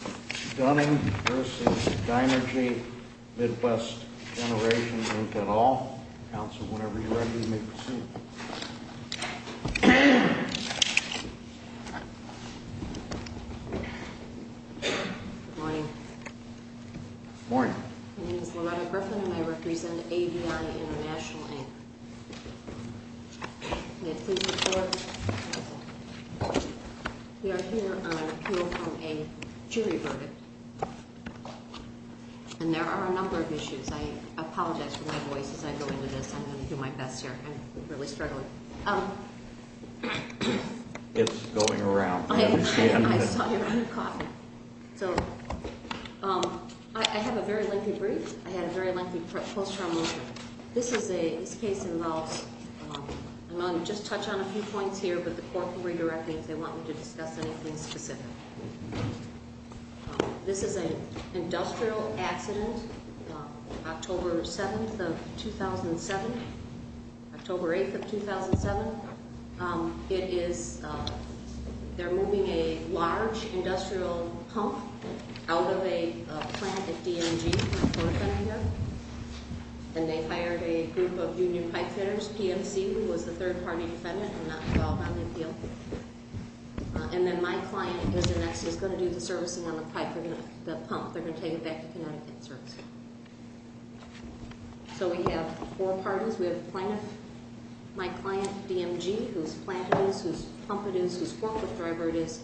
Good morning. My name is Loretta Griffin and I represent AVI International, Inc. May I please report? We are here on appeal from a juvenile defendant. And there are a number of issues. I apologize for my voice as I go into this. I'm going to do my best here. I'm really struggling. It's going around. I saw your hand caught. So I have a very lengthy brief. I had a very lengthy post-trial motion. This case involves, I'm going to just touch on a few points here, but the court can redirect me if they want me to discuss anything specific. This is an industrial accident, October 7th of 2007. October 8th of 2007. It is, they're moving a large industrial pump out of a plant at DNG. And they hired a group of union pipefitters, PMC, who was the third party defendant. And then my client is going to do the servicing on the pump. They're going to take it back to Connecticut. So we have four parties. We have my client, DMG, whose plant it is, whose pump it is, whose forklift driver it is.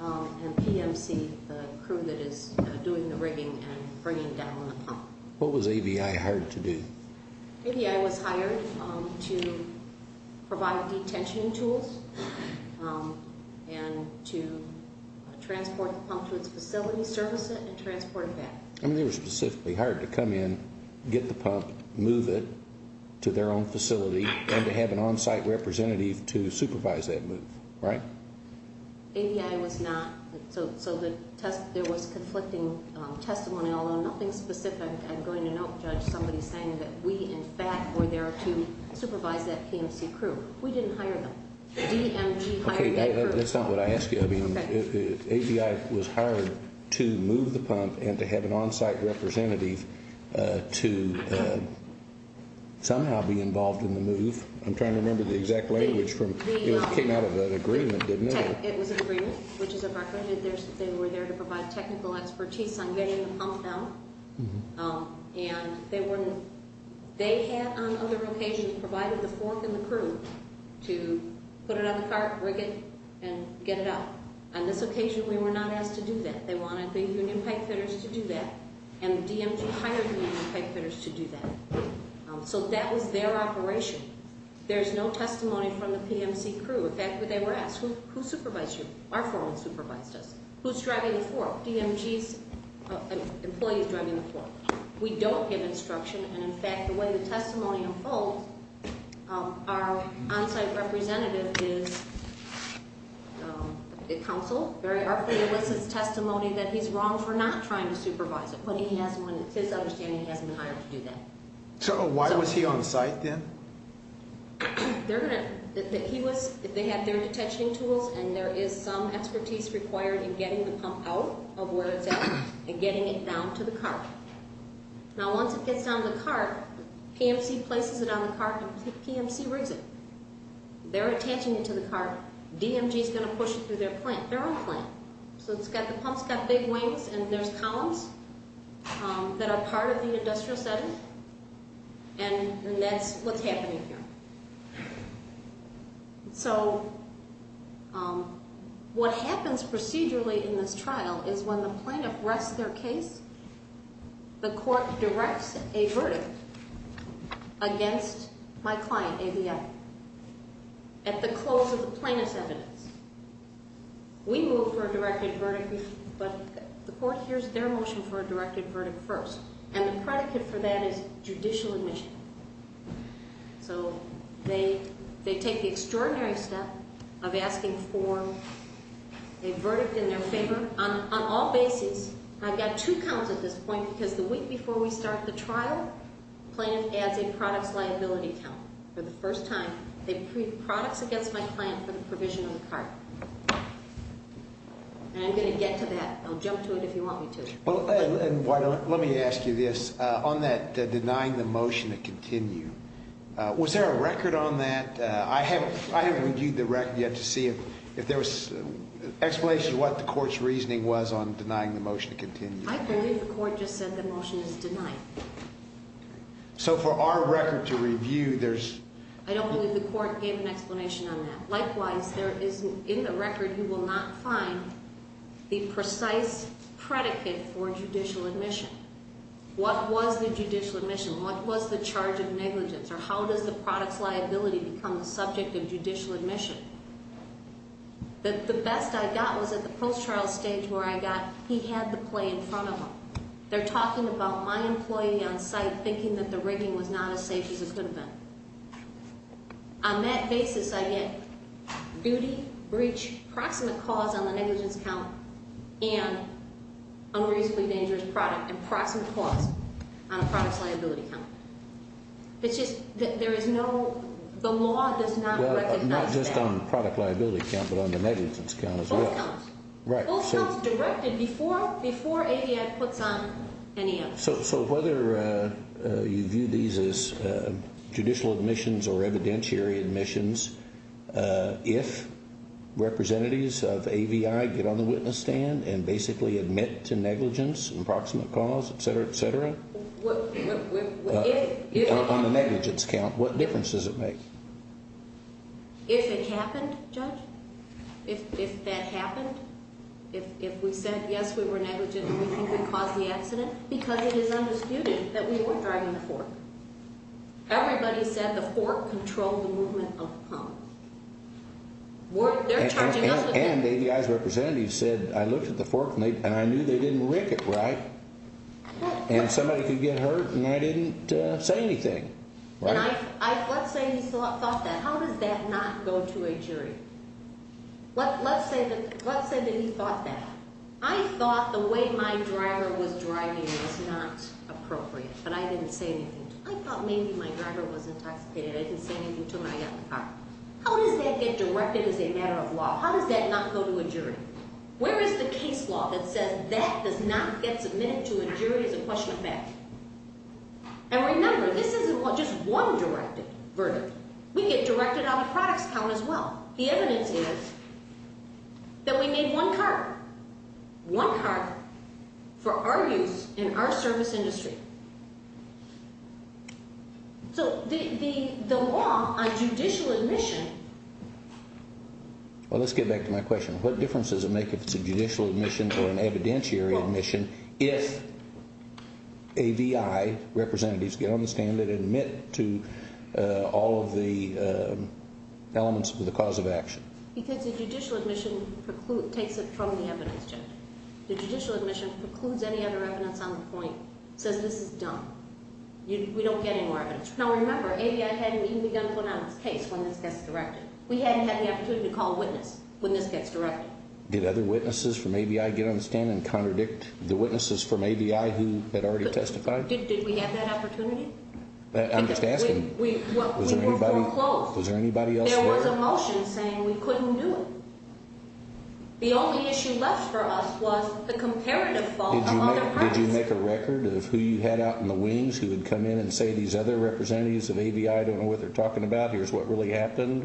And PMC, the crew that is doing the rigging and bringing down the pump. What was AVI hired to do? AVI was hired to provide detention tools and to transport the pump to its facility, service it, and transport it back. I mean, they were specifically hired to come in, get the pump, move it to their own facility, and to have an on-site representative to supervise that move, right? AVI was not. So there was conflicting testimony, although nothing specific. I'm going to note, Judge, somebody saying that we, in fact, were there to supervise that PMC crew. We didn't hire them. DMG hired that crew. Okay, that's not what I asked you. I mean, AVI was hired to move the pump and to have an on-site representative to somehow be involved in the move. I'm trying to remember the exact language. It came out of an agreement, didn't it? It was an agreement, which is a record. They were there to provide technical expertise on getting the pump out. And they had, on other occasions, provided the fork and the crew to put it on the cart, rig it, and get it out. On this occasion, we were not asked to do that. They wanted the Union pipefitters to do that, and DMG hired the Union pipefitters to do that. So that was their operation. There's no testimony from the PMC crew. In fact, they were asked, who supervised you? Our foreman supervised us. Who's driving the fork? DMG's employees driving the fork. We don't give instruction, and, in fact, the way the testimony unfolds, our on-site representative is counseled, very artfully elicits testimony that he's wrong for not trying to supervise it. But he has one, it's his understanding he hasn't been hired to do that. So why was he on site then? They're going to, he was, they had their detection tools, and there is some expertise required in getting the pump out of where it's at and getting it down to the cart. Now, once it gets down to the cart, PMC places it on the cart, and PMC rigs it. They're attaching it to the cart. DMG's going to push it through their plant, their own plant. So it's got, the pump's got big wings, and there's columns that are part of the industrial setting. And that's what's happening here. So what happens procedurally in this trial is when the plaintiff rests their case, the court directs a verdict against my client, AVM, at the close of the plaintiff's evidence. We move for a directed verdict, but the court hears their motion for a directed verdict first, and the predicate for that is judicial admission. So they take the extraordinary step of asking for a verdict in their favor on all bases. I've got two counts at this point because the week before we start the trial, the plaintiff adds a products liability count. For the first time, they pre-products against my client for the provision of the cart. And I'm going to get to that. I'll jump to it if you want me to. Let me ask you this. On that denying the motion to continue, was there a record on that? I haven't reviewed the record yet to see if there was an explanation of what the court's reasoning was on denying the motion to continue. I believe the court just said the motion is denied. So for our record to review, there's— I don't believe the court gave an explanation on that. Likewise, there is, in the record, you will not find the precise predicate for judicial admission. What was the judicial admission? What was the charge of negligence? Or how does the products liability become the subject of judicial admission? The best I got was at the post-trial stage where I got he had the play in front of him. They're talking about my employee on site thinking that the rigging was not as safe as it could have been. On that basis, I get duty, breach, proximate cause on the negligence count, and unreasonably dangerous product, and proximate cause on the products liability count. It's just that there is no—the law does not recognize that. Not just on the product liability count, but on the negligence count as well. Both counts. Right. Both counts were directed before ADF puts on any of them. So whether you view these as judicial admissions or evidentiary admissions, if representatives of AVI get on the witness stand and basically admit to negligence, and proximate cause, et cetera, et cetera, on the negligence count, what difference does it make? If it happened, Judge? If that happened? If we said, yes, we were negligent and we think we caused the accident? Because it is undisputed that we weren't driving the fork. Everybody said the fork controlled the movement of the pump. They're charging us with that. And AVI's representative said, I looked at the fork and I knew they didn't rig it right. And somebody could get hurt and I didn't say anything. Right? How does that not go to a jury? Let's say that he thought that. I thought the way my driver was driving was not appropriate, but I didn't say anything to him. I thought maybe my driver was intoxicated. I didn't say anything to him when I got in the car. How does that get directed as a matter of law? How does that not go to a jury? Where is the case law that says that does not get submitted to a jury as a question of fact? And remember, this isn't just one directed verdict. We get directed on the products count as well. The evidence is that we made one card, one card, for our use in our service industry. So the law on judicial admission. Well, let's get back to my question. What difference does it make if it's a judicial admission or an evidentiary admission if AVI representatives get on the stand and admit to all of the elements of the cause of action? Because the judicial admission takes it from the evidence judge. The judicial admission precludes any other evidence on the point. It says this is dumb. We don't get any more evidence. Now remember, AVI hadn't even begun to put out its case when this gets directed. We hadn't had the opportunity to call a witness when this gets directed. Did other witnesses from AVI get on the stand and contradict the witnesses from AVI who had already testified? Did we have that opportunity? I'm just asking. We were foreclosed. Was there anybody else there? There was a motion saying we couldn't do it. The only issue left for us was the comparative fault of other parties. Did you make a record of who you had out in the wings who would come in and say these other representatives of AVI, I don't know what they're talking about, here's what really happened?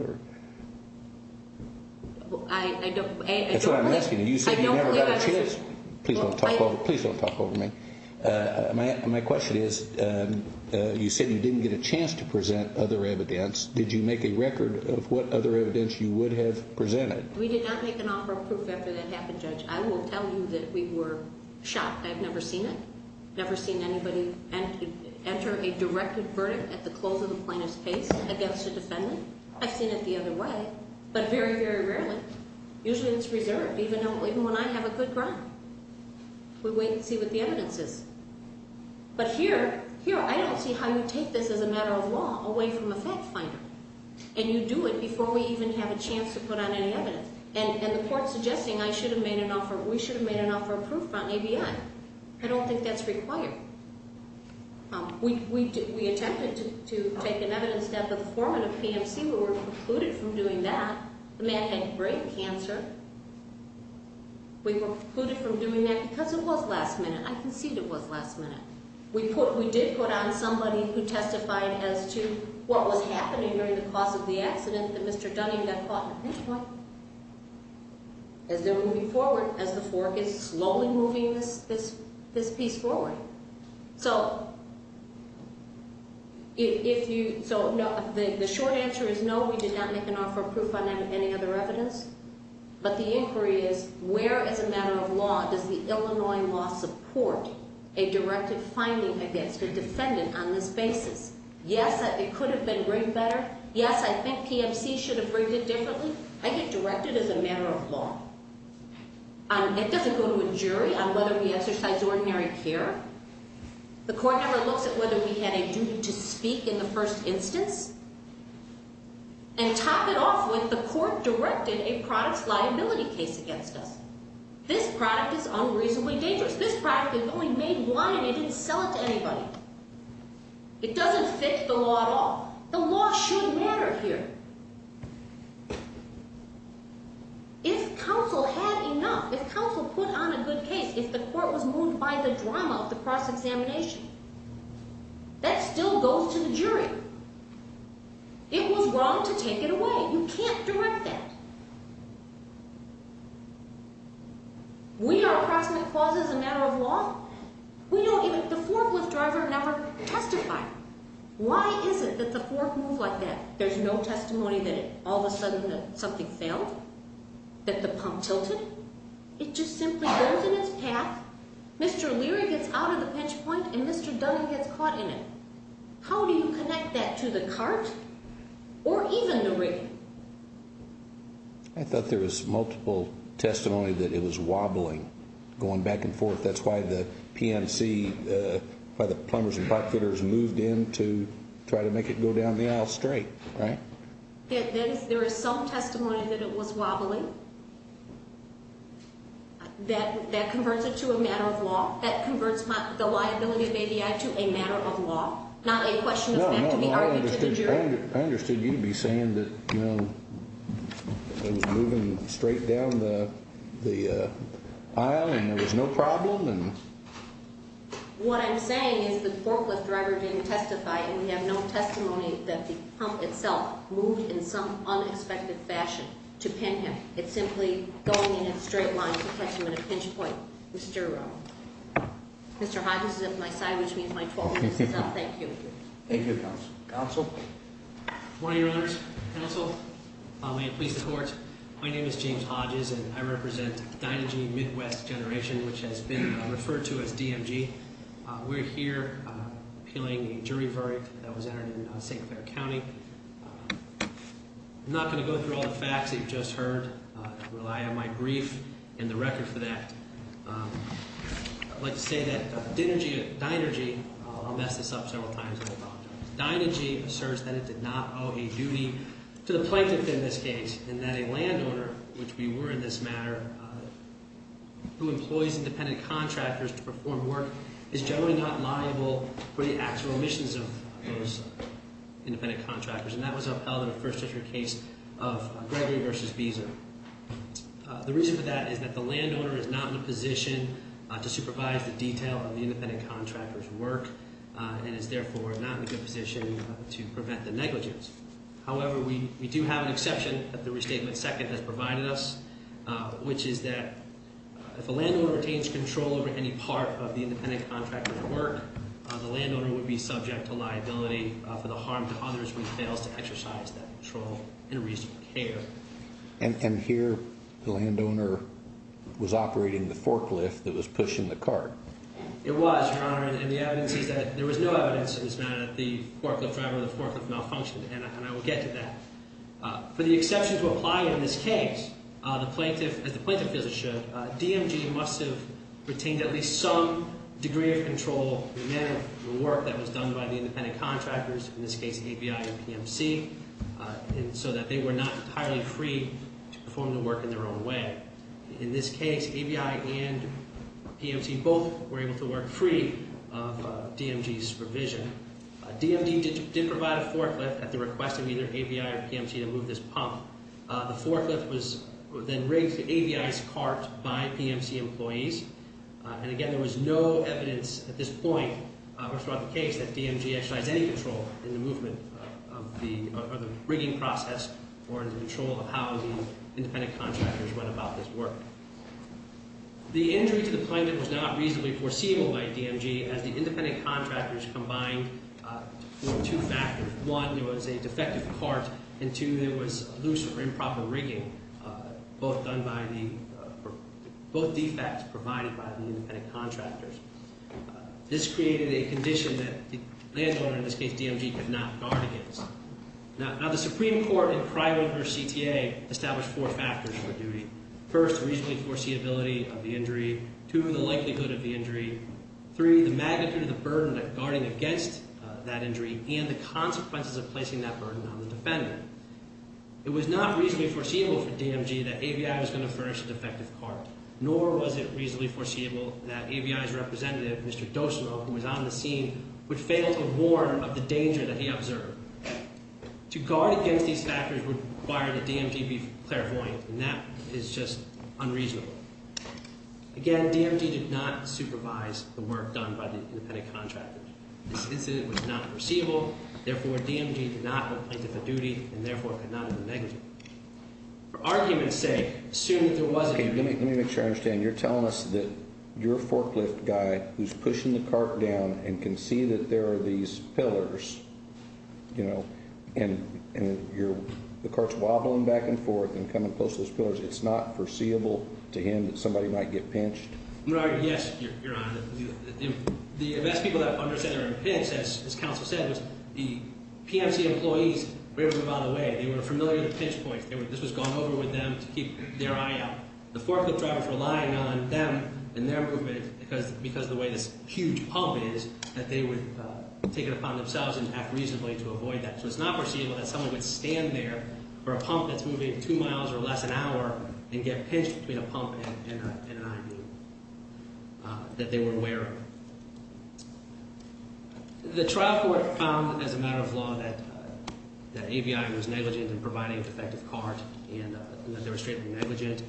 I don't believe I did. That's what I'm asking. You said you never got a chance. Please don't talk over me. My question is, you said you didn't get a chance to present other evidence. Did you make a record of what other evidence you would have presented? We did not make an offer of proof after that happened, Judge. I will tell you that we were shocked. I've never seen it. Never seen anybody enter a directed verdict at the close of a plaintiff's case against a defendant. I've seen it the other way, but very, very rarely. Usually it's reserved, even when I have a good ground. We wait and see what the evidence is. But here, I don't see how you take this as a matter of law away from a fact finder. And you do it before we even have a chance to put on any evidence. And the court's suggesting I should have made an offer, we should have made an offer of proof on AVI. I don't think that's required. We attempted to take an evidence that the foreman of PMC, we were precluded from doing that. The man had brain cancer. We were precluded from doing that because it was last minute. I concede it was last minute. We did put on somebody who testified as to what was happening during the cause of the accident, that Mr. Dunning got caught in a pinch point. As they were moving forward, as the fork is slowly moving this piece forward. The short answer is no, we did not make an offer of proof on any other evidence. But the inquiry is, where as a matter of law does the Illinois law support a directed finding against a defendant on this basis? Yes, it could have been rigged better. Yes, I think PMC should have rigged it differently. I get directed as a matter of law. It doesn't go to a jury on whether we exercise ordinary care. The court never looks at whether we had a duty to speak in the first instance. And top it off with the court directed a product's liability case against us. This product is unreasonably dangerous. This product is only made one and they didn't sell it to anybody. It doesn't fit the law at all. The law should matter here. If counsel had enough, if counsel put on a good case, if the court was moved by the drama of the cross-examination, that still goes to the jury. It was wrong to take it away. You can't direct that. We are crossing the cause as a matter of law. We don't even, the forklift driver never testified. Why is it that the fork moved like that? There's no testimony that all of a sudden something failed. That the pump tilted. It just simply goes in its path. Mr. Leary gets out of the pinch point and Mr. Dudley gets caught in it. How do you connect that to the cart or even the rig? I thought there was multiple testimony that it was wobbling, going back and forth. That's why the PNC, by the plumbers and pipefitters, moved in to try to make it go down the aisle straight, right? There is some testimony that it was wobbling. That converts it to a matter of law. That converts the liability of ABI to a matter of law. Not a question of fact to be argued to the jury. I understood you'd be saying that it was moving straight down the aisle and there was no problem. What I'm saying is the forklift driver didn't testify and we have no testimony that the pump itself moved in some unexpected fashion to pin him. It's simply going in a straight line to catch him in a pinch point. Mr. Hodges is at my side, which means my 12 minutes is up. Thank you. Thank you, Counsel. Counsel? Good morning, Your Honors. Counsel. May it please the Court. My name is James Hodges and I represent Dynegy Midwest Generation, which has been referred to as DMG. We're here appealing a jury verdict that was entered in St. Clair County. I'm not going to go through all the facts that you've just heard. I rely on my brief and the record for that. I'd like to say that Dynegy, I'll mess this up several times and I apologize. Dynegy asserts that it did not owe a duty to the plaintiff in this case and that a landowner, which we were in this matter, who employs independent contractors to perform work is generally not liable for the actual emissions of those independent contractors. And that was upheld in the First District case of Gregory v. Visa. The reason for that is that the landowner is not in a position to supervise the detail of the independent contractor's work and is therefore not in a good position to prevent the negligence. However, we do have an exception that the Restatement Second has provided us, which is that if a landowner retains control over any part of the independent contractor's work, the landowner would be subject to liability for the harm to others when he fails to exercise that control and reasonable care. And here the landowner was operating the forklift that was pushing the cart. It was, Your Honor, and the evidence is that there was no evidence that the forklift driver or the forklift malfunctioned and I will get to that. For the exception to apply in this case, as the plaintiff feels it should, DMG must have retained at least some degree of control in the manner of the work that was done by the independent contractors, in this case ABI and PMC, so that they were not entirely free to perform the work in their own way. In this case, ABI and PMC both were able to work free of DMG's provision. DMG did provide a forklift at the request of either ABI or PMC to move this pump. The forklift was then rigged to ABI's cart by PMC employees. And again, there was no evidence at this point, or throughout the case, that DMG exercised any control in the movement of the rigging process or in the control of how the independent contractors went about this work. The injury to the plaintiff was not reasonably foreseeable by DMG, as the independent contractors combined for two factors. One, there was a defective cart, and two, there was loose or improper rigging, both defects provided by the independent contractors. This created a condition that the landowner, in this case DMG, could not guard against. Now, the Supreme Court, in private versus CTA, established four factors for duty. First, reasonably foreseeability of the injury. Two, the likelihood of the injury. Three, the magnitude of the burden of guarding against that injury and the consequences of placing that burden on the defendant. It was not reasonably foreseeable for DMG that ABI was going to furnish a defective cart, nor was it reasonably foreseeable that ABI's representative, Mr. Dosimo, who was on the scene, would fail to warn of the danger that he observed. To guard against these factors would require that DMG be clairvoyant, and that is just unreasonable. Again, DMG did not supervise the work done by the independent contractors. This incident was not foreseeable. Therefore, DMG did not complain to the duty, and therefore could not have been negligent. For argument's sake, assume that there was an injury. Let me make sure I understand. You're telling us that your forklift guy, who's pushing the cart down and can see that there are these pillars, you know, and the cart's wobbling back and forth and coming close to those pillars, it's not foreseeable to him that somebody might get pinched? Right, yes, Your Honor. The best people that understand are in a pinch, as counsel said, was the PMC employees were on the way. They were familiar with the pinch points. This was going over with them to keep their eye out. The forklift drivers were relying on them and their movement, because the way this huge pump is, that they would take it upon themselves and act reasonably to avoid that. So it's not foreseeable that somebody would stand there for a pump that's moving two miles or less an hour and get pinched between a pump and an IV that they were aware of. The trial court found, as a matter of law, that ABI was negligent in providing a defective cart and that they were strictly negligent.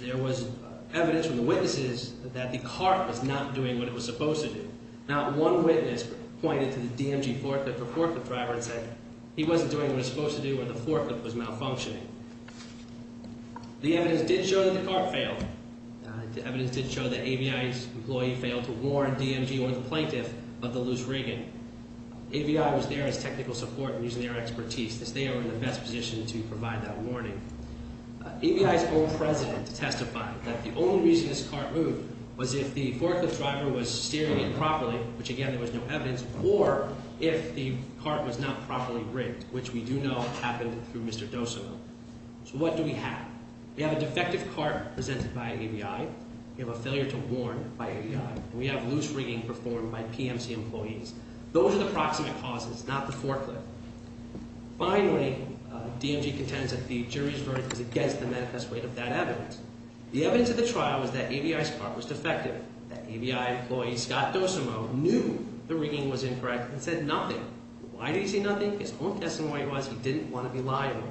There was evidence from the witnesses that the cart was not doing what it was supposed to do. Not one witness pointed to the DMG forklift or forklift driver and said he wasn't doing what he was supposed to do or the forklift was malfunctioning. The evidence did show that the cart failed. The evidence did show that ABI's employee failed to warn DMG or the plaintiff of the loose rigging. ABI was there as technical support and using their expertise, as they are in the best position to provide that warning. ABI's own president testified that the only reason this cart moved was if the forklift driver was steering it properly, which, again, there was no evidence, or if the cart was not properly rigged, which we do know happened through Mr. Dosimo. So what do we have? We have a defective cart presented by ABI. We have a failure to warn by ABI. We have loose rigging performed by PMC employees. Those are the proximate causes, not the forklift. Finally, DMG contends that the jury's verdict is against the manifest way of that evidence. The evidence of the trial was that ABI's cart was defective. That ABI employee, Scott Dosimo, knew the rigging was incorrect and said nothing. Why did he say nothing? His own testimony was he didn't want to be liable.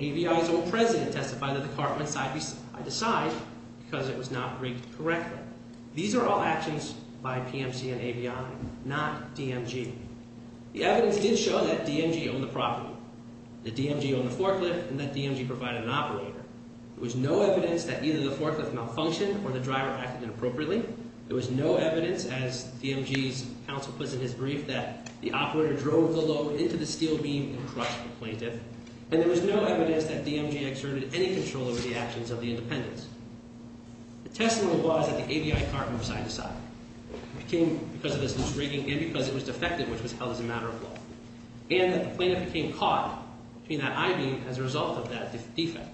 ABI's own president testified that the cart went side to side because it was not rigged correctly. These are all actions by PMC and ABI, not DMG. The evidence did show that DMG owned the property, that DMG owned the forklift, and that DMG provided an operator. There was no evidence that either the forklift malfunctioned or the driver acted inappropriately. There was no evidence, as DMG's counsel puts in his brief, that the operator drove the load into the steel beam and crushed the plaintiff. And there was no evidence that DMG exerted any control over the actions of the independents. The testimony was that the ABI cart went side to side because of its rigging and because it was defective, which was held as a matter of law. And that the plaintiff became caught between that I-beam as a result of that defect.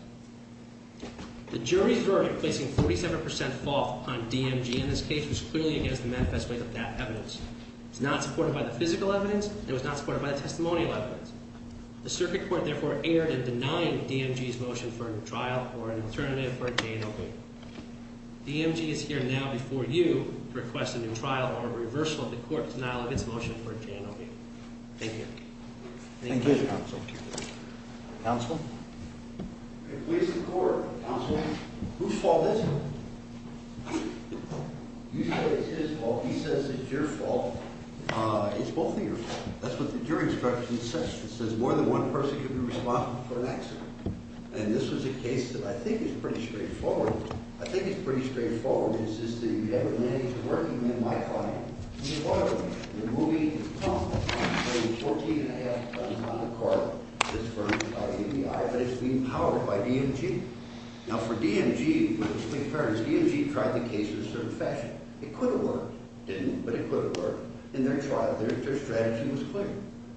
The jury's verdict placing 47% fault on DMG in this case was clearly against the manifest way of that evidence. It was not supported by the physical evidence. It was not supported by the testimonial evidence. The circuit court therefore erred in denying DMG's motion for a trial or an alternative for a J&OB. DMG is here now before you to request a new trial or a reversal of the court's denial of its motion for a J&OB. Thank you. Thank you. Thank you, counsel. Counsel? In the case of the court, counsel, whose fault is it? You say it's his fault. He says it's your fault. It's both of your faults. That's what the jury instruction says. It says more than one person can be responsible for an accident. And this was a case that I think is pretty straightforward. I think it's pretty straightforward. It's just that you never managed to work him in my finding. And it worked. The movie is tough. It weighs 14 1⁄2 tons on the cart, this firm called ABI. But it's being powered by DMG. Now, for DMG, we have to be fair. DMG tried the case in a certain fashion. It could have worked. It didn't, but it could have worked. And their strategy was clear.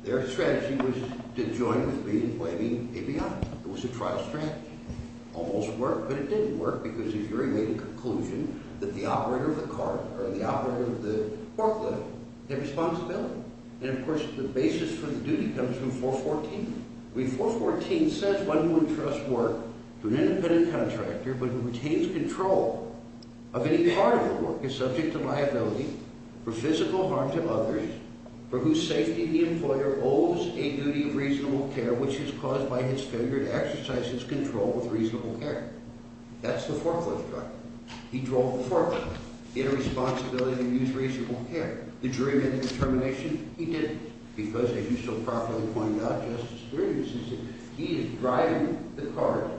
Their strategy was to join with me in blaming ABI. It was a trial strategy. It almost worked, but it didn't work, because the jury made the conclusion that the operator of the cart or the operator of the forklift had responsibility. And, of course, the basis for the duty comes from 414. I mean, 414 says one who entrusts work to an independent contractor but who retains control of any part of the work is subject to liability for physical harm to others for whose safety the employer owes a duty of reasonable care which is caused by his failure to exercise his control with reasonable care. That's the forklift truck. He drove the forklift. It had a responsibility to use reasonable care. The jury made the determination he didn't, because, if you still properly point out Justice Brewer's decision, he is driving the cart,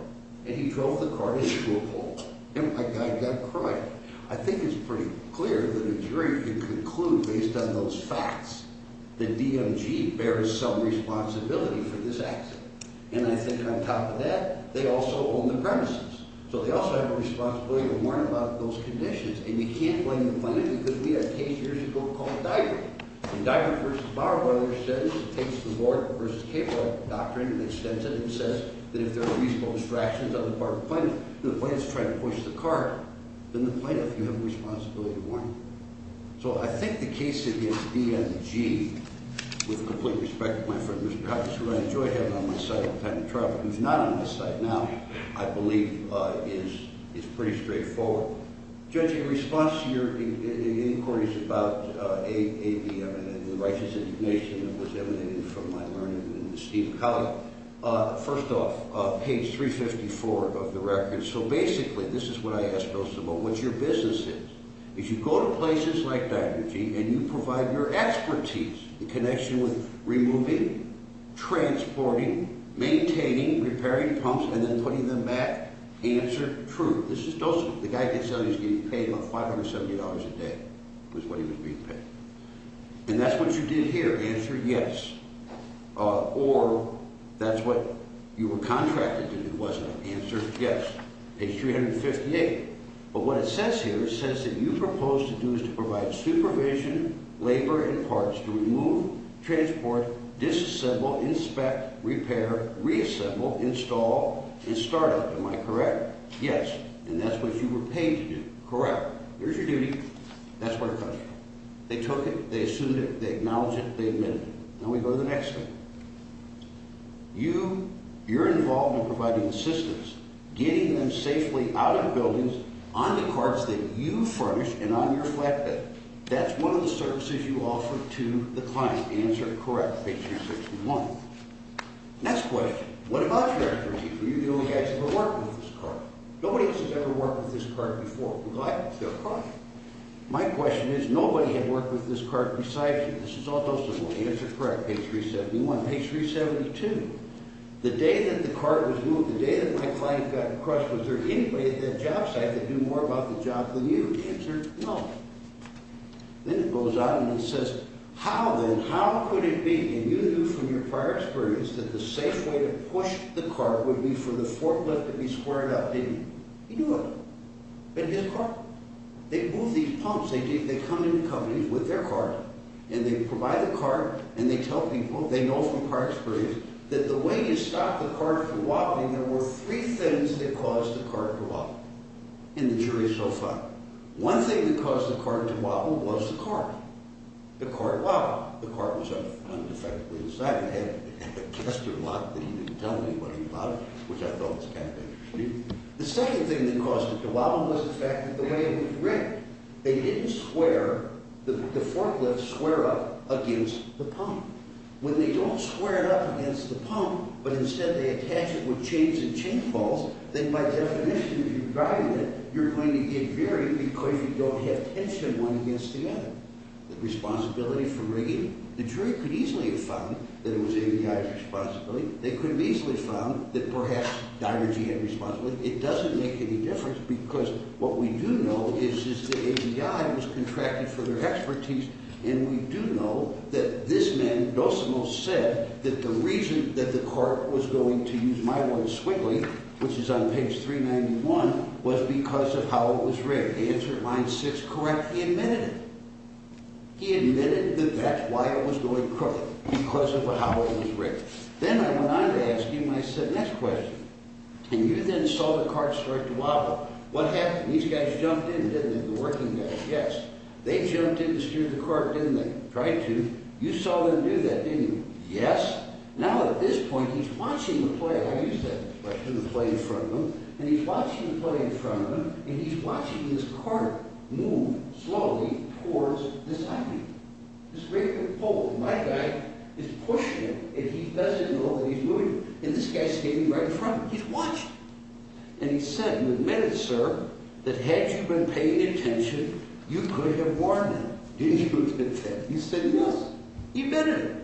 and he drove the cart into a pole. And my guy got a cry. I think it's pretty clear that a jury can conclude, based on those facts, that DMG bears some responsibility for this accident. And I think, on top of that, they also own the premises. So they also have a responsibility to warn about those conditions. And you can't blame the plaintiff, because we had a case years ago called Diver. In Diver v. Bauerweiler's sentence, it takes the Bork v. Capewell doctrine and extends it and says that if there are reasonable distractions on the part of the plaintiff when he's trying to push the cart, then the plaintiff, you have a responsibility to warn him. So I think the case against DMG, with complete respect to my friend Mr. Hoppes, who I enjoy having on my side all the time in trial, but who's not on my side now, I believe is pretty straightforward. Judge, in response to your inquiries about the righteous indignation that was emanating from my learning and the esteemed colleague, first off, page 354 of the record. So basically, this is what I asked Dosimo, what's your business is. If you go to places like DMG and you provide your expertise, the connection with removing, transporting, maintaining, repairing pumps, and then putting them back, answer true. This is Dosimo. The guy can tell you he's getting paid about $570 a day, was what he was being paid. And that's what you did here. Answer yes. Or that's what you were contracted to do, wasn't it? Answer yes. Page 358. But what it says here says that you propose to do is to provide supervision, labor, and parts to remove, transport, disassemble, inspect, repair, reassemble, install, and start up. Am I correct? Yes. And that's what you were paid to do. Correct. There's your duty. That's what it comes down to. They took it, they assumed it, they acknowledged it, they admitted it. Now we go to the next thing. You're involved in providing assistance, getting them safely out of buildings, on the carts that you furnish, and on your flatbed. That's one of the services you offer to the client. Answer correct. Page 361. Next question. What about your expertise? Well, you guys have been working with this cart. Nobody else has ever worked with this cart before, regardless of their project. My question is, nobody had worked with this cart besides you. This is all those of you. Answer correct. Page 371. Page 372. The day that the cart was moved, the day that my client got in touch, was there anybody at that job site that knew more about the job than you? Answer no. Then it goes on and it says, how then, how could it be, and you knew from your prior experience that the safe way to push the cart would be for the forklift to be squared up, didn't you? He knew it, but his cart. They move these pumps, they come into companies with their cart, and they provide the cart, and they tell people, they know from prior experience, that the way you stopped the cart from wobbling, there were three things that caused the cart to wobble. And the jury is so fine. One thing that caused the cart to wobble was the cart. The cart wobbled. The cart was on the front and effectively on the side. It had a tester lock that you didn't tell anybody about it, which I thought was kind of interesting. The second thing that caused it to wobble was the fact that the way it was rigged, they didn't square, the forklifts square up against the pump. When they don't square it up against the pump, but instead they attach it with chains and chain pulls, then by definition, if you're driving it, you're going to get very, because you don't have tension one against the other. The responsibility for rigging, the jury could easily have found that it was AVI's responsibility. They could have easily found that perhaps Dyer and Gee had responsibility. It doesn't make any difference because what we do know is that AVI was contracted for their expertise, and we do know that this man, Dosimo, said that the reason that the cart was going to use my one, Swigly, which is on page 391, was because of how it was rigged. He answered line six correctly. He admitted it. He admitted that that's why it was going crooked, because of how it was rigged. Then I went on to ask him, I said, next question. And you then saw the cart start to wobble. What happened? These guys jumped in, didn't they? The working guys, yes. They jumped in to steer the cart, didn't they? Tried to. You saw them do that, didn't you? Yes. Now at this point, he's watching the play. I used that expression, the play in front of him, and he's watching the play in front of him, and he's watching this cart move slowly towards this IV. This vehicle pulls, and my guy is pushing it, and he doesn't know that he's moving it. And this guy's standing right in front of him. He's watching. And he said, you admitted, sir, that had you been paying attention, you could have warned them. Didn't you admit that? He said, yes. He admitted it.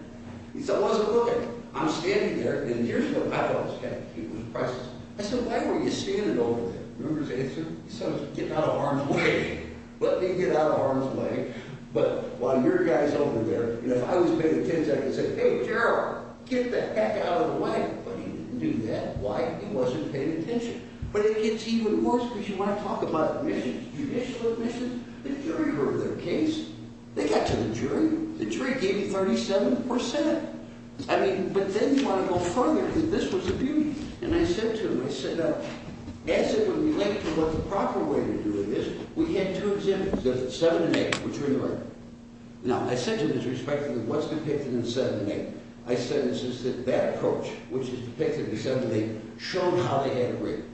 He said, I wasn't looking. I'm standing there, and here's what happens. He was impressed. I said, why were you standing over there? Remember his answer? He said, I was getting out of harm's way. Let me get out of harm's way. But while your guy's over there, if I was paying attention, I could say, hey, Gerald, get the heck out of the way. But he didn't do that. Why? He wasn't paying attention. But it gets even worse, because you want to talk about admissions, judicial admissions. The jury heard their case. They got to the jury. The jury gave him 37%. I mean, but then you want to go further, because this was a beauty. And I said to him, I said, as it would relate to what the proper way to do it is, we had two exemptions, 7 and 8, which were in the record. Now, I said to him, with respect to what's depicted in 7 and 8, I said, it's just that that approach, which is depicted in 7 and 8, showed how they had it rigged.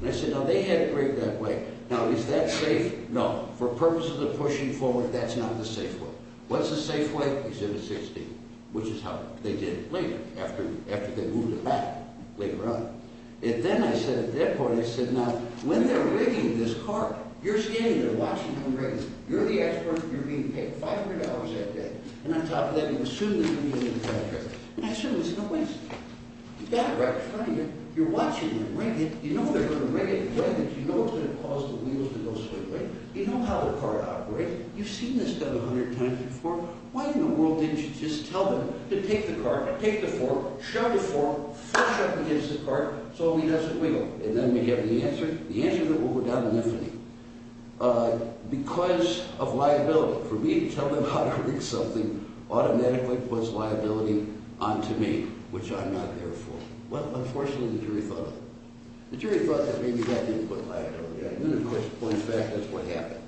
And I said, no, they had it rigged that way. Now, is that safe? No. For purposes of pushing forward, that's not the safe way. What's the safe way? Exhibit 16, which is how they did it later, after they moved it back later on. And then I said, at that point, I said, now, when they're rigging this cart, you're standing there watching them rig it. You're the expert. You're being paid $500 that day. And on top of that, you assume the community contract. And I said, well, it's no waste. You've got it right in front of you. You're watching them rig it. You know they're going to rig it the way that you know it's going to cause the wheels to go sideways. You know how the cart operates. You've seen this done 100 times before. Why in the world didn't you just tell them to take the cart, take the fork, shove the fork flush up against the cart so he doesn't wiggle? And then we have the answer. The answer is that we'll go down in infamy. Because of liability, for me to tell them how to rig something automatically puts liability onto me, which I'm not there for. Well, unfortunately, the jury thought of it. The jury thought that maybe that didn't put liability on me. And then, of course, it points back. That's what happened.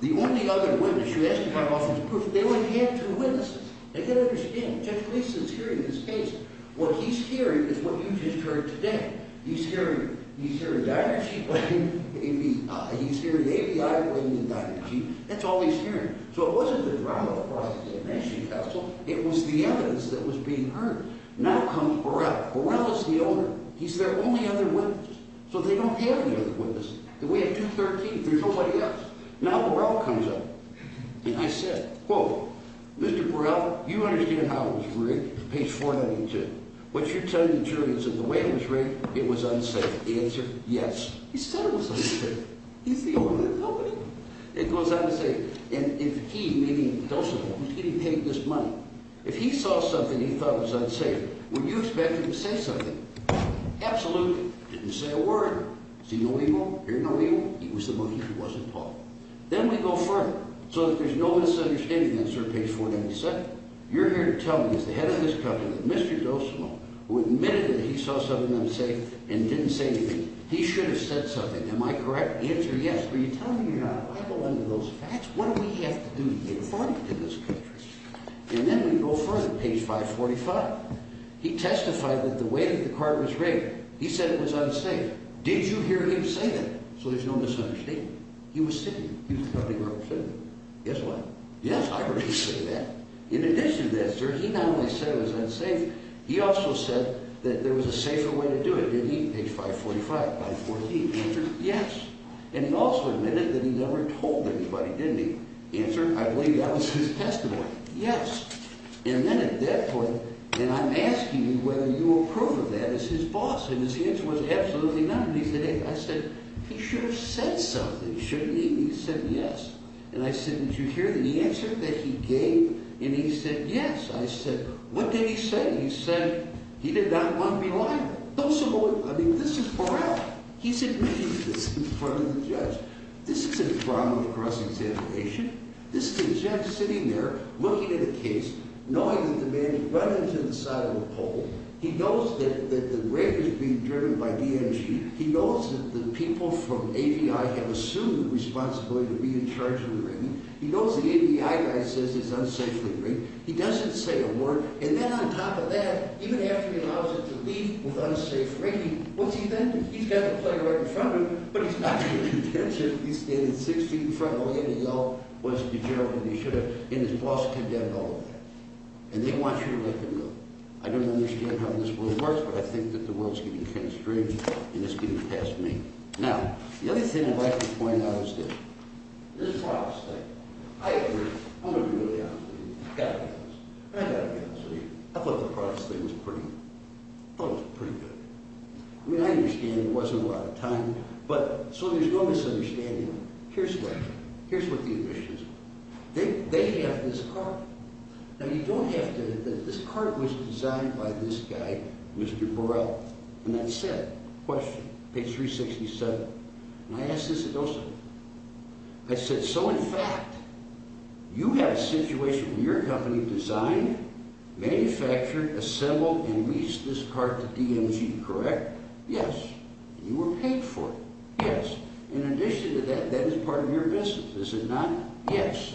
The only other witness, you asked me how often is proof. They only had two witnesses. They could understand. Judge Gleason is hearing this case. What he's hearing is what you just heard today. He's hearing a diary sheet laying, he's hearing ABI laying a diary sheet. That's all he's hearing. So it wasn't the drive-by fraud at the Amnesty Council. It was the evidence that was being heard. Now comes Burrell. Burrell is the owner. He's their only other witness. So they don't have any other witnesses. We have 213. There's nobody else. Now Burrell comes up. He just said, quote, Mr. Burrell, you understand how it was rigged, page 492. What you're telling the jury is that the way it was rigged, it was unsafe. Answer? Yes. He said it was unsafe. He's the owner of the company. It goes on to say, and if he, meaning Dulce, was getting paid this money, if he saw something he thought was unsafe, would you expect him to say something? Absolutely. Didn't say a word. Is he no legal? You're no legal? He was the money. He wasn't Paul. Then we go further. So that there's no misunderstanding, answer page 497. You're here to tell me, as the head of this company, that Mr. Dulce, who admitted that he saw something unsafe and didn't say anything, he should have said something. Am I correct? Answer? Yes. But you're telling me you're not liable under those facts? What do we have to do to be informed in this country? And then we go further, page 545. He testified that the way that the card was rigged, he said it was unsafe. Did you hear him say that? So there's no misunderstanding. He was sitting there. He was the company where I was sitting. Guess what? Yes, I heard him say that. In addition to that, sir, he not only said it was unsafe, he also said that there was a safer way to do it. Didn't he? Page 545, 914. Answer? Yes. And he also admitted that he never told anybody, didn't he? Answer? I believe that was his testimony. Yes. And then at that point, and I'm asking you whether you approve of that as his boss, and his answer was absolutely not. And he said, hey, I said, he should have said something, shouldn't he? He said yes. And I said, did you hear the answer that he gave? And he said yes. I said, what did he say? He said he did not want to be liable. I mean, this is morale. He's admitting this in front of the judge. This isn't a problem of cross-examination. This is a judge sitting there looking at a case, knowing that the man has run into the side of a pole. He knows that the rape is being driven by DNC. He knows that the people from AVI have assumed the responsibility to be in charge of the raping. He knows the AVI guy says it's unsafely raped. He doesn't say a word. And then on top of that, even after he allows it to leave with unsafe raping, what's he then do? He's got the player right in front of him, but he's not paying attention. He's standing six feet in front of him, and he yelled, wasn't you, Gerald, and you should have. And his boss condemned all of that. And they want you to let them know. I don't understand how this works, but I think that the world is getting kind of strange, and it's getting past me. Now, the other thing I'd like to point out is this. This is how I'll say it. I agree. I'm going to be really honest with you. I've got to be honest. I've got to be honest with you. I thought the process was pretty good. I mean, I understand it wasn't a lot of time, but so there's no misunderstanding. Here's what the admission is. They have this card. Now, you don't have to, this card was designed by this guy, Mr. Burrell. And that said, question, page 367. And I ask this of those of you. I said, so in fact, you had a situation where your company designed, manufactured, assembled, and leased this card to DMG, correct? Yes. And you were paid for it. Yes. In addition to that, that is part of your business, is it not? Yes.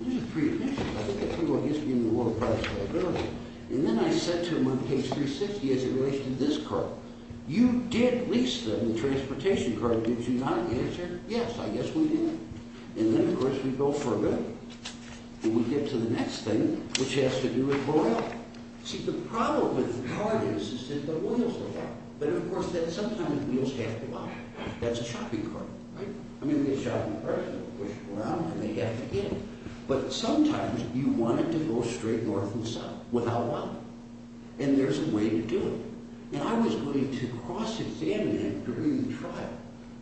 These are pre-admissions. I think that's pretty well history in the world of private liability. And then I said to him on page 360 as it relates to this card, you did lease the transportation card, did you not? Yes, sir. Yes, I guess we did. And then, of course, we go further. And we get to the next thing, which has to do with Burrell. See, the problem with the card is that the wheels are locked. But, of course, that sometimes the wheels have to lock. That's a shopping cart, right? I mean, it's a shopping cart. You push it around, and they have to get it. But sometimes you want it to go straight north and south without locking. And there's a way to do it. And I was going to cross-examine it during the trial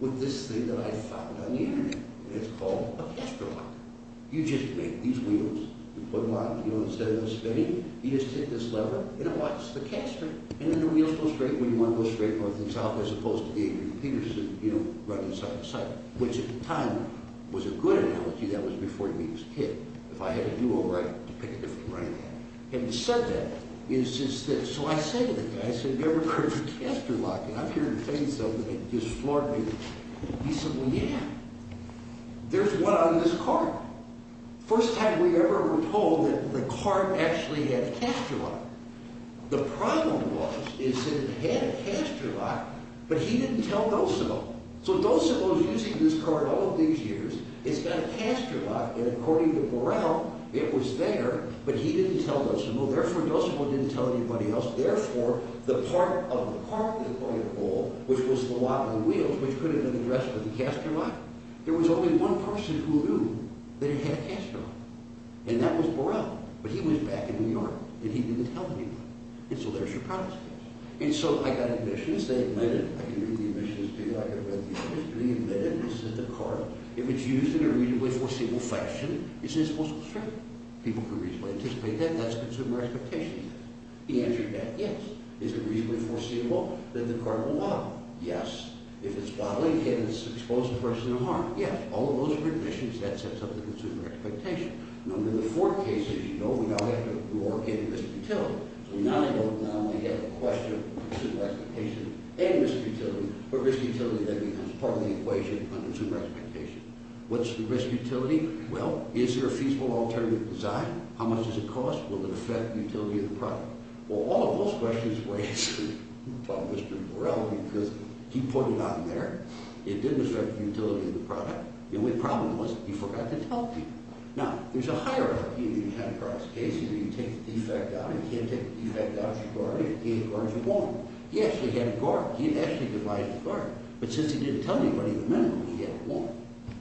with this thing that I found on the Internet. It's called a caster lock. You just make these wheels. You put them on, you know, instead of them spinning, you just take this lever, and it locks the caster. And then the wheels go straight when you want to go straight north and south as opposed to being Peterson, you know, running side to side. Which, at the time, was a good analogy. That was before he was a kid. If I had to do a right to pick a different right. Having said that, so I say to the guy, I said, have you ever heard of a caster lock? And I'm here to tell you something that just floored me. He said, well, yeah. There's one on this cart. First time we ever were told that the cart actually had a caster lock. The problem was, it said it had a caster lock, but he didn't tell Dosimo. So Dosimo's using this cart all of these years. It's got a caster lock, and according to Burrell, it was there, but he didn't tell Dosimo. Therefore, Dosimo didn't tell anybody else. Therefore, the part of the cart, they call it, which was the lock of the wheels, which could have been addressed with a caster lock. There was only one person who knew that it had a caster lock, and that was Burrell. But he was back in New York, and he didn't tell anyone. And so there's your problem. And so I got admissions. They admitted. I can read the admissions to you. I can read the admissions. They admitted. They said the cart, if it's used in a reasonably foreseeable fashion, isn't it supposed to be straight? People can reasonably anticipate that. That's consumer expectation. He answered that, yes. Is it reasonably foreseeable that the cart will wobble? Yes. If it's wobbling, can it expose the person to harm? Yes. All of those were admissions. That sets up the consumer expectation. And under the Ford case, as you know, we now have to work in risk utility. So now we have a question of consumer expectation and risk utility. But risk utility, that becomes part of the equation under consumer expectation. What's the risk utility? Well, is there a feasible alternative design? How much does it cost? Will it affect the utility of the product? Well, all of those questions were answered by Mr. Burrell because he put it on there. It didn't affect the utility of the product. The only problem was he forgot to tell people. Now, there's a hierarchy if you have a product case. You take the defect out. You can't take the defect out of the cart. You can't get it out of the cart if you want. He actually had a cart. He actually devised a cart. But since he didn't tell anybody the minimum, he had one.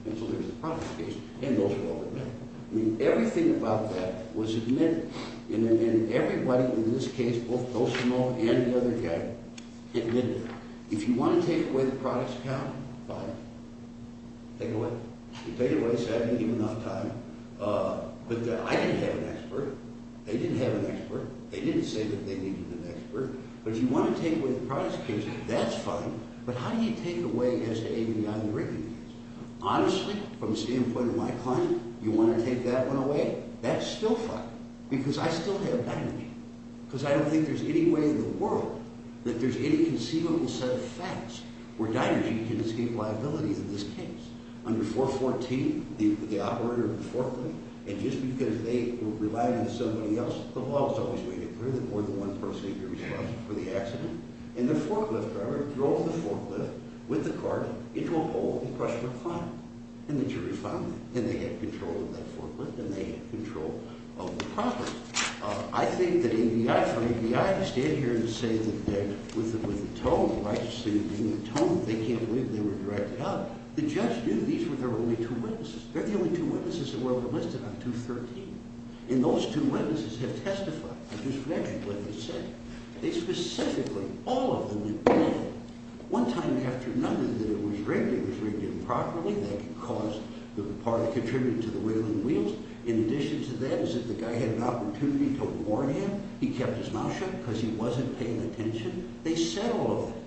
And so there's the product case, and those are all the minimum. I mean, everything about that was admitted. And everybody in this case, both Bolsonaro and the other guy, admitted it. If you want to take away the product's count, fine. Take it away. Take it away. Save me even enough time. But I didn't have an expert. They didn't have an expert. They didn't say that they needed an expert. But if you want to take away the product's case, that's fine. But how do you take away SAAB on the written case? Honestly, from the standpoint of my client, you want to take that one away? That's still fine because I still have dynergy because I don't think there's any way in the world that there's any conceivable set of facts where dynergy can escape liability in this case under 414, the operator of the forklift. And just because they relied on somebody else, the law was always doing it. There was more than one person who could be responsible for the accident. And the forklift driver drove the forklift with the cart into a pole and crushed the client. And the jury found that. And they had control of that forklift, and they had control of the property. I think that ABI, for ABI to stand here and say that with the tone, they can't believe they were directed out, the judge knew these were their only two witnesses. They're the only two witnesses that were enlisted on 213. And those two witnesses have testified. I just mentioned what they said. They specifically, all of them, did. One time after another that it was rigged, it was rigged improperly. That could cause the part that contributed to the wheeling wheels. In addition to that is that the guy had an opportunity to warn him. He kept his mouth shut because he wasn't paying attention. They said all of that.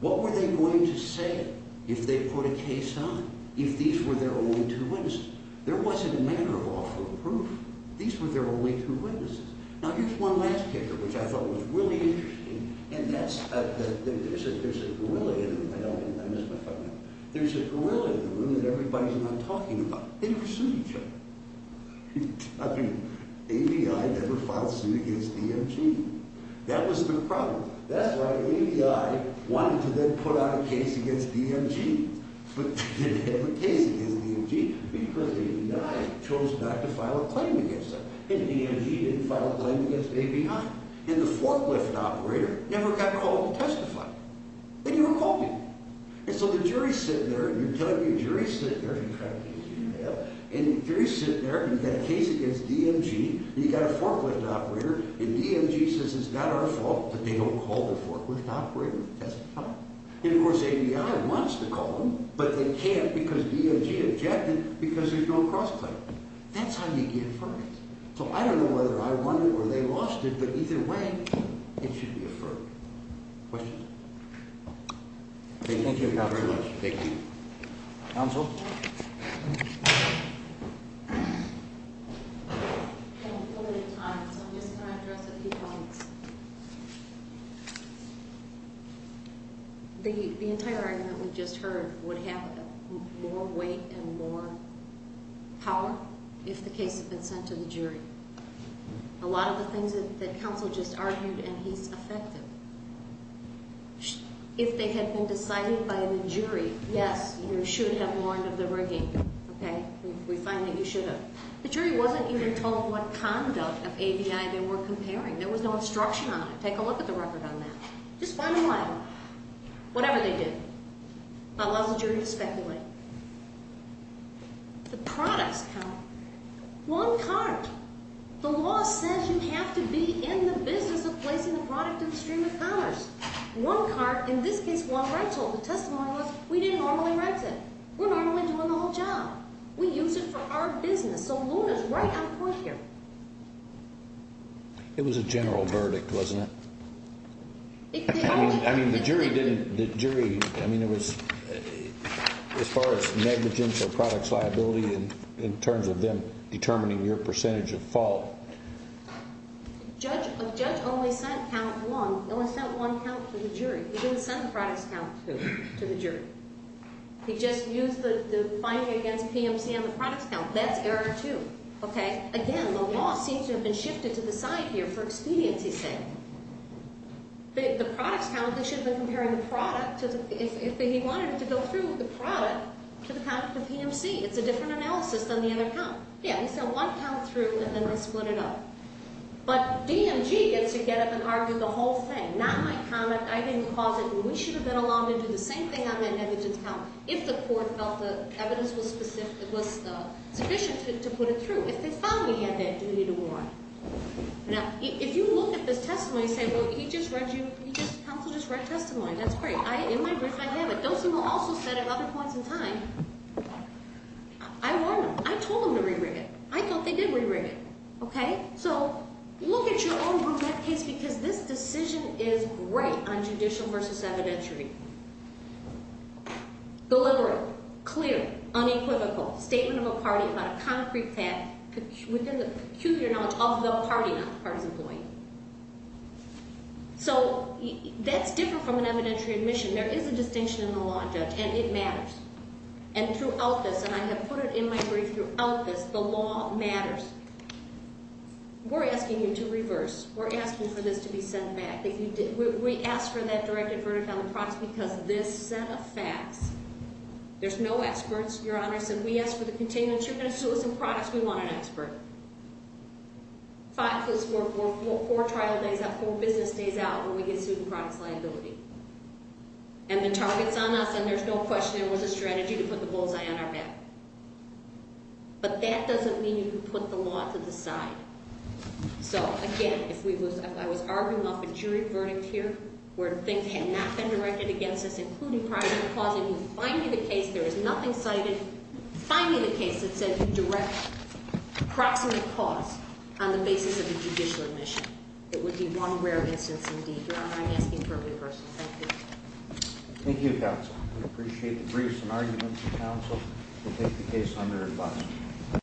What were they going to say if they put a case on, if these were their only two witnesses? There wasn't a matter of offer of proof. These were their only two witnesses. Now, here's one last picture, which I thought was really interesting. And that's, there's a gorilla in the room. I don't, I missed my phone number. There's a gorilla in the room that everybody's not talking about. They never sued each other. I mean, ABI never filed suit against DMG. That was the problem. That's why ABI wanted to then put out a case against DMG. But they didn't have a case against DMG because ABI chose not to file a claim against them. And DMG didn't file a claim against ABI. And the forklift operator never got called to testify. And you were called in. And so the jury's sitting there, and you're telling me the jury's sitting there, and you're trying to get his email. And the jury's sitting there, and you've got a case against DMG. And you've got a forklift operator. And DMG says it's not our fault that they don't call the forklift operator to testify. And, of course, ABI wants to call them, but they can't because DMG objected because there's no cross-claim. That's how you get a verdict. So I don't know whether I won it or they lost it, but either way, it should be a verdict. Questions? Okay, thank you very much. Thank you. Counsel? I'm just going to address a few points. The entire argument we just heard would have more weight and more power if the case had been sent to the jury. A lot of the things that counsel just argued, and he's effective. If they had been decided by the jury, yes, you should have warned of the rigging, okay? We find that you should have. The jury wasn't even told what conduct of ABI they were comparing. There was no instruction on it. Take a look at the record on that. Just one line. Whatever they did. That allows the jury to speculate. The products count. One cart. The law says you have to be in the business of placing the product in the stream of commerce. One cart, in this case, one rental. The testimony was we didn't normally rent it. We're normally doing the whole job. We use it for our business. So, Luna's right on point here. It was a general verdict, wasn't it? I mean, the jury didn't, the jury, I mean, it was as far as negligence or products liability in terms of them determining your percentage of fault. The judge only sent count one, only sent one count to the jury. He didn't send the products count to the jury. He just used the finding against PMC on the products count. That's error two. Okay? Again, the law seems to have been shifted to the side here for expediency's sake. The products count, they should have been comparing the product, if he wanted to go through with the product, to the PMC. It's a different analysis than the other count. Yeah, he sent one count through and then they split it up. But DMG gets to get up and argue the whole thing. Again, not my comment. I didn't cause it. We should have been allowed to do the same thing on the negligence count if the court felt the evidence was sufficient to put it through, if they found we had that duty to warrant. Now, if you look at this testimony and say, well, he just read you, he just, counsel just read testimony. That's great. In my brief, I have it. Dosey will also set it at other points in time. I warned them. I told them to re-rig it. I thought they did re-rig it. Okay? So look at your own brunette case because this decision is great on judicial versus evidentiary. Deliberate. Clear. Unequivocal. Statement of a party about a concrete fact within the peculiar knowledge of the party, not the party's employee. So that's different from an evidentiary admission. And throughout this, and I have put it in my brief, throughout this, the law matters. We're asking you to reverse. We're asking for this to be sent back. We asked for that directed verdict on the products because this set of facts, there's no experts, Your Honor. We asked for the continuance. You're going to sue us in products. We want an expert. Five plus four, four trial days, that whole business stays out when we get sued in products liability. And the target's on us, and there's no question there was a strategy to put the bullseye on our back. But that doesn't mean you can put the law to the side. So, again, if I was arguing off a jury verdict here where things had not been directed against us, including primary cause, and you find me the case, there is nothing cited, find me the case that said you direct proximate cause on the basis of a judicial admission. It would be one rare instance indeed. Thank you, Your Honor. I'm asking for a reversal. Thank you. Thank you, counsel. We appreciate the briefs and arguments of counsel. We'll take the case on their advice.